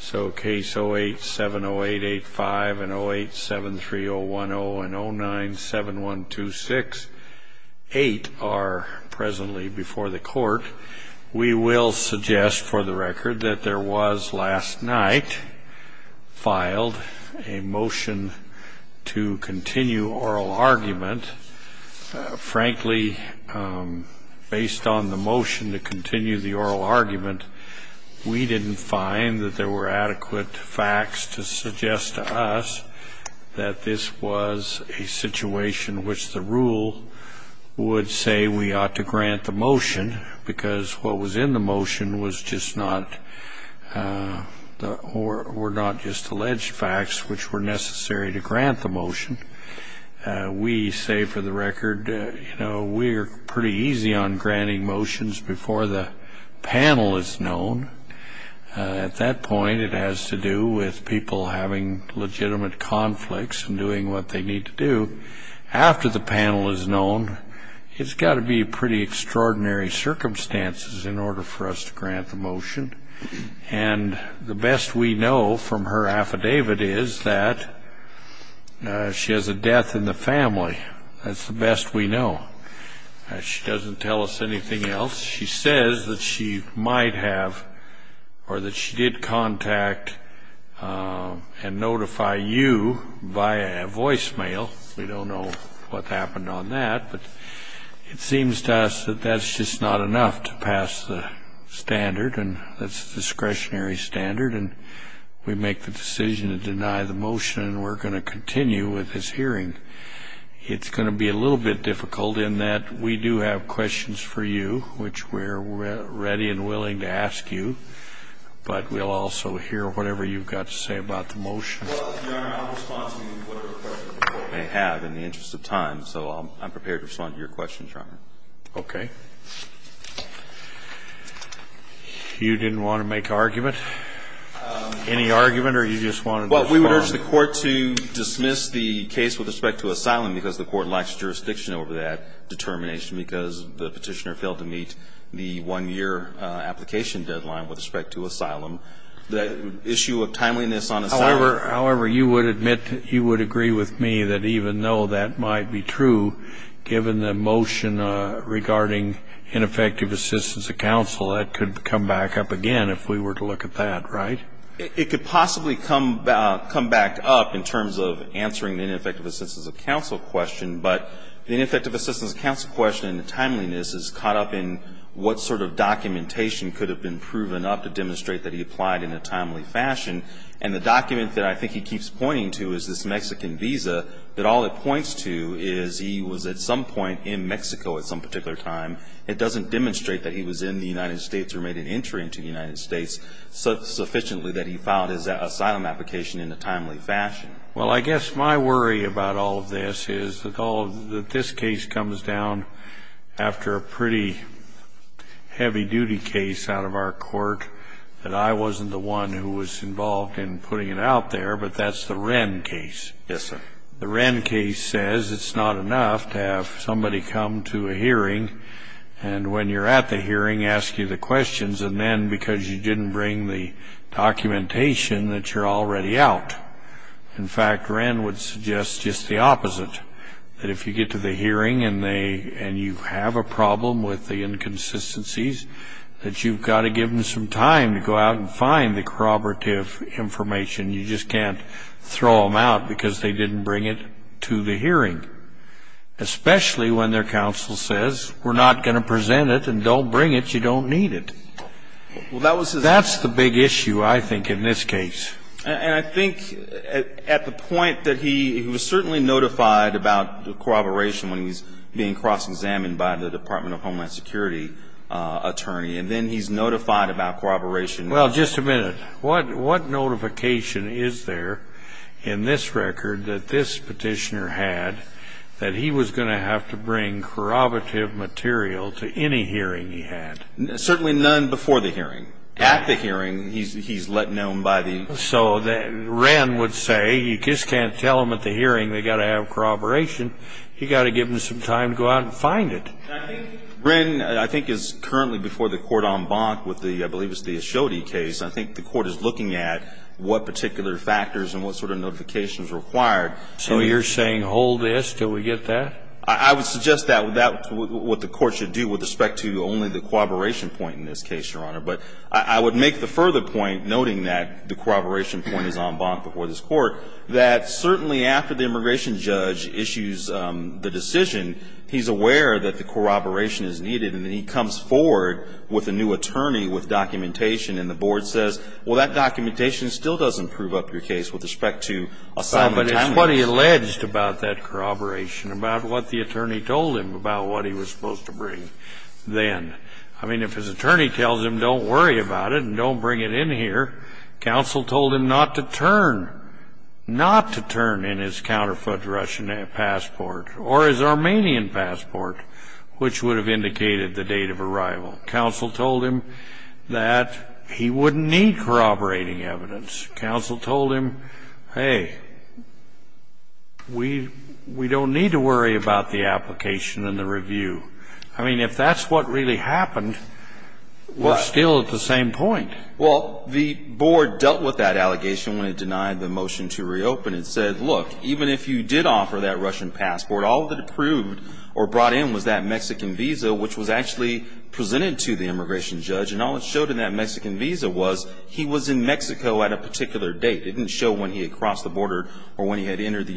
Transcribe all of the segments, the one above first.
So case 0870885 and 0873010 and 0971268 are presently before the court. We will suggest for the record that there was last night filed a motion to continue oral argument. Frankly, based on the motion to continue the oral argument, we didn't find that there were adequate facts to suggest to us that this was a situation which the rule would say we ought to grant the motion because what was in the motion was just not or were not just alleged facts which were necessary to grant the motion. We say for the record, you know, we're pretty easy on At that point, it has to do with people having legitimate conflicts and doing what they need to do. After the panel is known, it's got to be pretty extraordinary circumstances in order for us to grant the motion. And the best we know from her affidavit is that she has a death in the family. That's the best we or that she did contact and notify you by a voicemail. We don't know what happened on that, but it seems to us that that's just not enough to pass the standard. And that's discretionary standard. And we make the decision to deny the motion. We're going to continue with this hearing. It's going to be a little bit difficult in that we do have questions for you, which we're ready and But we'll also hear whatever you've got to say about the motion. They have in the interest of time, so I'm prepared to respond to your questions, Your Honor. Okay. You didn't want to make argument, any argument or you just wanted? Well, we would urge the court to dismiss the case with respect to asylum because the court lacks jurisdiction over that determination because the petitioner failed to meet the one year application deadline with respect to asylum. The issue of timeliness on However, you would admit, you would agree with me that even though that might be true, given the motion regarding ineffective assistance of counsel, that could come back up again if we were to look at that, right? It could possibly come back up in terms of answering the ineffective assistance of counsel question, but the ineffective assistance of counsel question and timeliness is caught up in what sort of documentation could have been proven up to demonstrate that he applied in a timely fashion. And the document that I think he keeps pointing to is this Mexican visa that all it points to is he was at some point in Mexico at some particular time. It doesn't demonstrate that he was in the United States or made an entry into the United States sufficiently that he filed his asylum application in a timely fashion. Well, I guess my worry about all of this is that this case comes down after a pretty heavy-duty case out of our court that I wasn't the one who was involved in putting it out there, but that's the Wren case. Yes, sir. The Wren case says it's not enough to have somebody come to a hearing and when you're at the hearing, ask you the questions, and then because you didn't bring the documentation, that you're already out. In fact, Wren would suggest just the opposite, that if you get to the hearing and you have a problem with the inconsistencies, that you've got to give them some time to go out and find the corroborative information. You just can't throw them out because they didn't bring it to the hearing, especially when their counsel says, we're not going to present it and don't bring it, you don't need it. That's the big issue, I think, in this case. And I think at the point that he was certainly notified about corroboration when he was being cross-examined by the Department of Homeland Security attorney, and then he's notified about corroboration. Well, just a minute. What notification is there in this record that this petitioner had that he was going to have to bring corroborative material to any hearing he had? Certainly none before the hearing. At the hearing, he's let known by the... So Wren would say, you just can't tell them at the hearing they've got to have corroboration. You've got to give them some time to go out and find it. I think Wren is currently before the court en banc with the, I believe it's the Ashodi case. I think the court is looking at what particular factors and what sort of notification is required. So you're saying hold this until we get that? I would suggest that without what the court should do with respect to only the corroboration point in this case, Your Honor. But I would make the further point, noting that the corroboration point is en banc before this Court, that certainly after the immigration judge issues the decision, he's aware that the corroboration is needed, and then he comes forward with a new attorney with documentation, and the board says, well, that documentation still doesn't prove up your case with respect to assignment time limits. But it's what he alleged about that corroboration, about what the attorney told him about what he was supposed to bring then. I mean, if his attorney tells him don't worry about it and don't bring it in here, counsel told him not to turn, not to turn in his counterfeit Russian passport or his Armenian passport, which would have indicated the date of arrival. Counsel told him that he wouldn't need corroborating evidence. Counsel told him, hey, we don't need to worry about the application and the review. I mean, if that's what really happened, we're still at the same point. Well, the board dealt with that allegation when it denied the motion to reopen. It said, look, even if you did offer that Russian passport, all that approved or brought in was that Mexican visa, which was actually presented to the immigration judge, and all it showed in that Mexican visa was he was in Mexico at a particular date. It didn't show when he had crossed the border or when he had entered the country.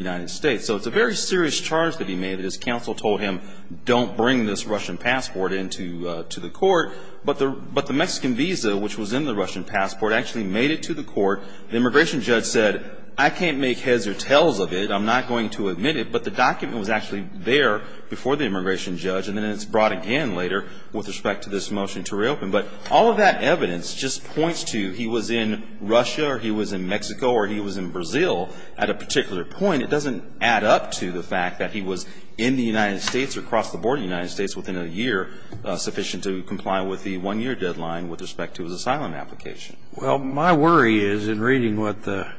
Counsel told him, don't bring this Russian passport into the court. But the Mexican visa, which was in the Russian passport, actually made it to the court. The immigration judge said, I can't make heads or tails of it. I'm not going to admit it. But the document was actually there before the immigration judge, and then it's brought again later with respect to this motion to reopen. But all of that evidence just points to he was in Russia or he was in Mexico or he was in Brazil at a particular point. It doesn't add up to the fact that he was in the United States or crossed the border of the United States within a year sufficient to comply with the one-year deadline with respect to his asylum application. Well, my worry is, in reading what the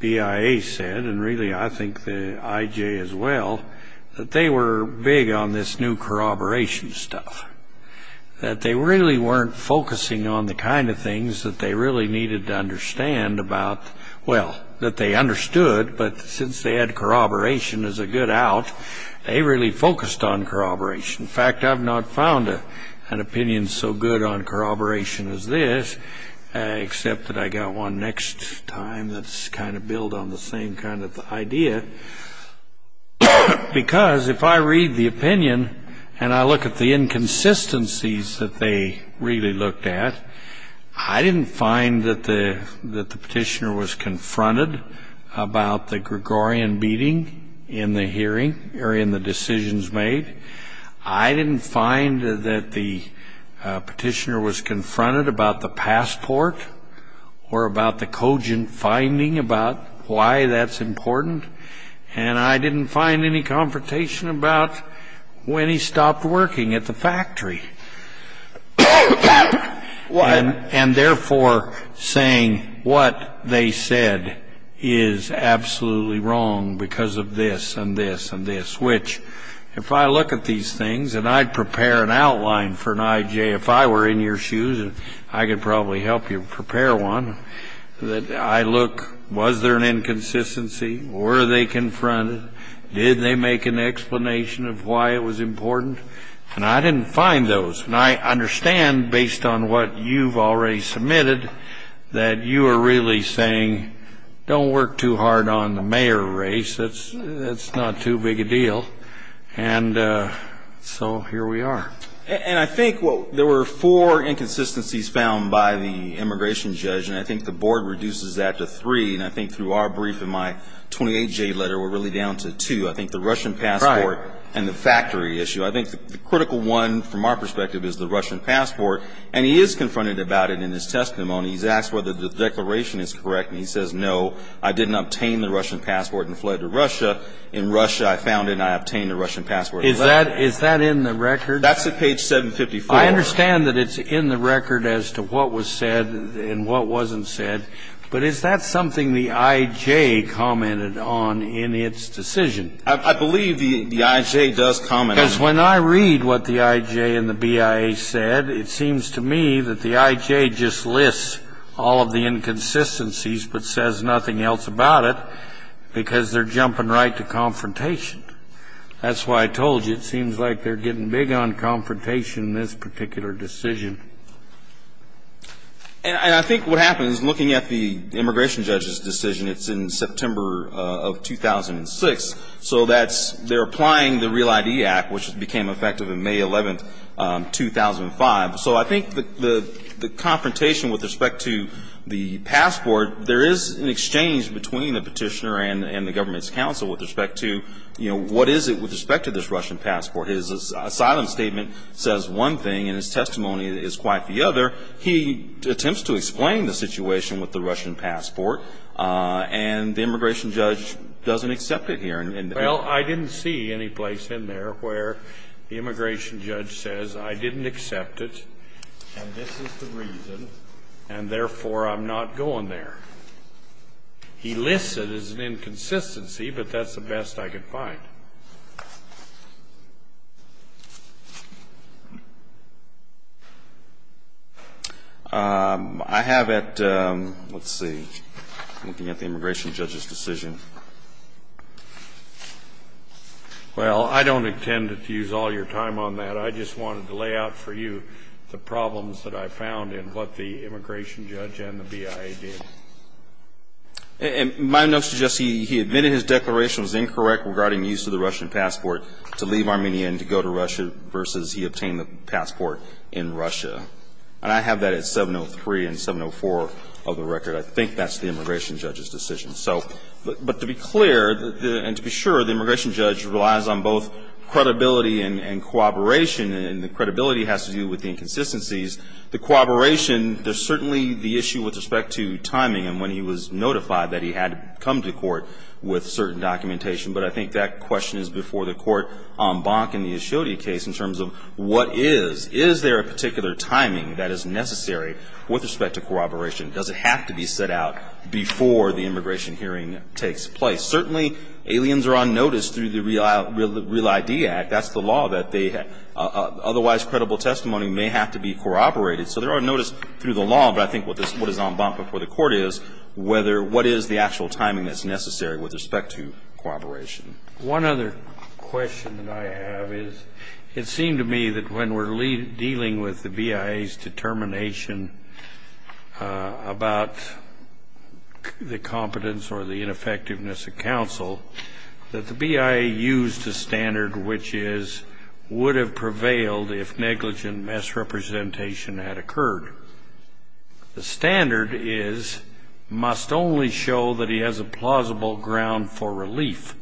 BIA said, and really I think the IJ as well, that they were big on this new corroboration stuff, that they really weren't focusing on the kind of things that they really needed to understand about, well, that they understood. But since they had corroboration as a good out, they really focused on corroboration. In fact, I've not found an opinion so good on corroboration as this, except that I got one next time that's kind of built on the same kind of idea. Because if I read the opinion and I look at the inconsistencies that they really looked at, I didn't find that the petitioner was confronted about the Gregorian beating in the hearing, or in the decisions made. I didn't find that the petitioner was confronted about the passport, or about the cogent finding about why that's important. And I didn't find any confrontation about when he stopped working at the factory. And therefore, saying what they said is absolutely wrong because of this, and this, and this. Which, if I look at these things, and I'd prepare an outline for an IJ, if I were in your shoes, I could probably help you prepare one, that I look, was there an inconsistency? Were they confronted? Did they make an explanation of why it was important? And I didn't find those. And I understand, based on what you've already submitted, that you are really saying, don't work too hard on the mayor race. It's not too big a deal. And so here we are. And I think there were four inconsistencies found by the immigration judge, and I think the board reduces that to three. And I think through our brief in my 28J letter, we're really down to two. I think the Russian passport and the factory issue. I think the critical one, from our perspective, is the Russian passport. And he is confronted about it in his testimony. He's asked whether the declaration is correct. And he says, no, I didn't obtain the Russian passport and fled to Russia. In Russia, I found it and I obtained the Russian passport. Is that in the record? That's at page 754. I understand that it's in the record as to what was said and what wasn't said. But is that something the IJ commented on in its decision? I believe the IJ does comment on it. Because when I read what the IJ and the BIA said, it seems to me that the IJ just lists all of the inconsistencies but says nothing else about it, because they're jumping right to confrontation. That's why I told you it seems like they're getting big on confrontation in this particular decision. And I think what happens, looking at the immigration judge's decision, it's in which it became effective on May 11, 2005. So I think the confrontation with respect to the passport, there is an exchange between the petitioner and the government's counsel with respect to, you know, what is it with respect to this Russian passport? His asylum statement says one thing and his testimony is quite the other. He attempts to explain the situation with the Russian passport. And the immigration judge doesn't accept it here. Well, I didn't see any place in there where the immigration judge says, I didn't accept it, and this is the reason, and therefore I'm not going there. He lists it as an inconsistency, but that's the best I could find. I have at the immigration judge's decision, I think it's in which the immigration judge's decision, and therefore I'm not going there. Well, I don't intend to use all your time on that. I just wanted to lay out for you the problems that I found in what the immigration judge and the BIA did. And my notes suggest he admitted his declaration was incorrect regarding use of the Russian passport to leave Armenia and to go to Russia versus he obtained the passport in Russia. And I have that at 703 and 704 of the record. I think that's the immigration judge's decision. So, but to be clear and to be sure, the immigration judge relies on both credibility and cooperation, and the credibility has to do with the inconsistencies. The cooperation, there's certainly the issue with respect to timing and when he was notified that he had to come to court with certain documentation. But I think that question is before the court en banc in the Ashodi case in terms of what is. Is there a particular timing that is necessary with respect to cooperation? Does it have to be set out before the immigration hearing takes place? Certainly, aliens are on notice through the Real ID Act. That's the law that they have. Otherwise, credible testimony may have to be corroborated. So there are notice through the law, but I think what is en banc before the court is whether what is the actual timing that's necessary with respect to cooperation. One other question that I have is it seemed to me that when we're dealing with the competence or the ineffectiveness of counsel, that the BIA used a standard which is would have prevailed if negligent misrepresentation had occurred. The standard is must only show that he has a plausible ground for relief.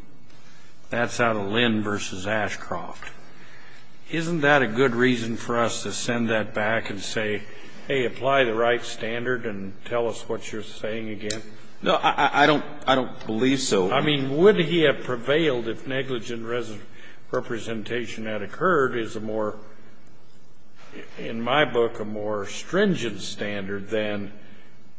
That's out of Lynn versus Ashcroft. Isn't that a good reason for us to send that back and say, hey, apply the right standard and tell us what you're saying again? No, I don't believe so. I mean, would he have prevailed if negligent representation had occurred is a more ‑‑ in my book, a more stringent standard than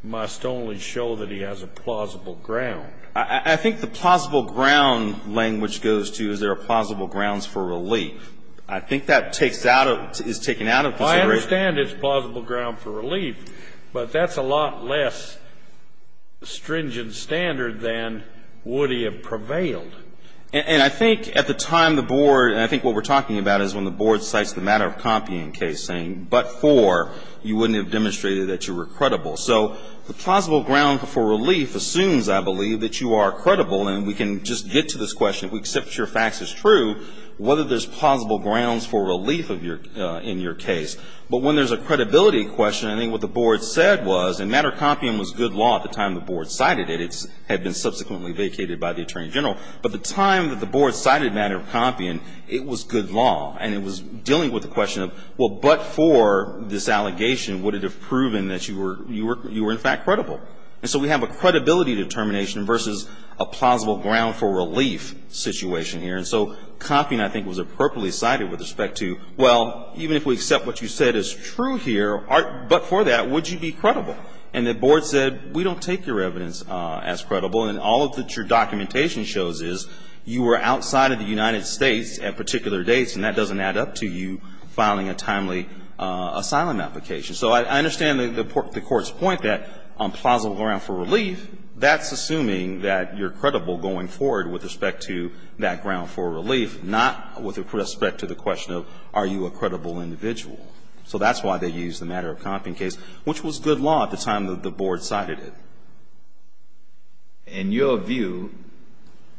must only show that he has a plausible ground. I think the plausible ground language goes to is there are plausible grounds for relief. I think that takes out of ‑‑ is taken out of consideration. Well, I understand it's plausible ground for relief, but that's a lot less stringent standard than would he have prevailed. And I think at the time the board ‑‑ and I think what we're talking about is when the board cites the matter of Compian case saying, but for, you wouldn't have demonstrated that you were credible. So the plausible ground for relief assumes, I believe, that you are credible, and we can just get to this question. If we accept your facts as true, whether there's plausible grounds for relief in your case. But when there's a credibility question, I think what the board said was, and matter of Compian was good law at the time the board cited it. It had been subsequently vacated by the attorney general. But the time that the board cited matter of Compian, it was good law, and it was dealing with the question of, well, but for this allegation, would it have proven that you were in fact credible? And so we have a credibility determination versus a plausible ground for relief situation here. And so Compian, I think, was appropriately cited with respect to, well, even if we accept what you said is true here, but for that, would you be credible? And the board said, we don't take your evidence as credible, and all that your documentation shows is you were outside of the United States at particular dates, and that doesn't add up to you filing a timely asylum application. So I understand the court's point that on plausible ground for relief, that's assuming that you're credible going forward with respect to that ground for relief, not with respect to the question of, are you a credible individual? So that's why they used the matter of Compian case, which was good law at the time that the board cited it. In your view,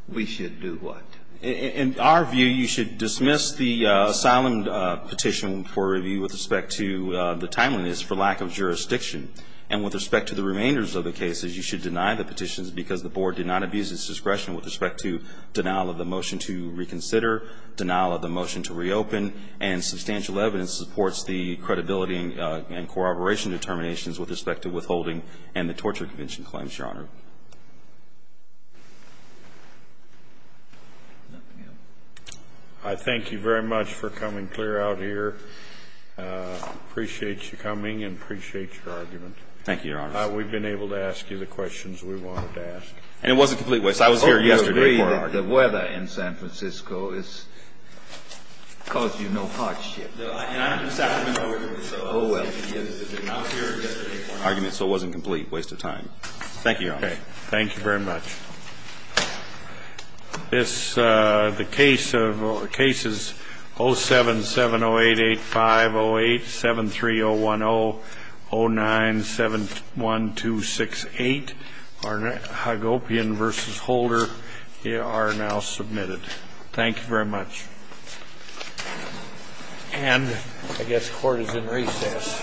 we should do what? In our view, you should dismiss the asylum petition for review with respect to the timeliness for lack of jurisdiction. And with respect to the remainders of the cases, you should the board did not abuse its discretion with respect to denial of the motion to reconsider, denial of the motion to reopen, and substantial evidence supports the credibility and corroboration determinations with respect to withholding and the torture convention claims, Your Honor. I thank you very much for coming clear out here. Appreciate you coming and appreciate your argument. Thank you, Your Honor. We've been able to ask you the questions we wanted to ask. And it wasn't complete waste. I was here yesterday for an argument. Oh, you agree that the weather in San Francisco has caused you no hardship. And I'm in Sacramento, Oregon, so I was here yesterday for an argument. So it wasn't a complete waste of time. Thank you, Your Honor. Okay. Thank you very much. This, the case of, cases 077088508, 73010, 0971268, Hagopian v. Holder are now submitted. Thank you very much. And I guess court is in recess.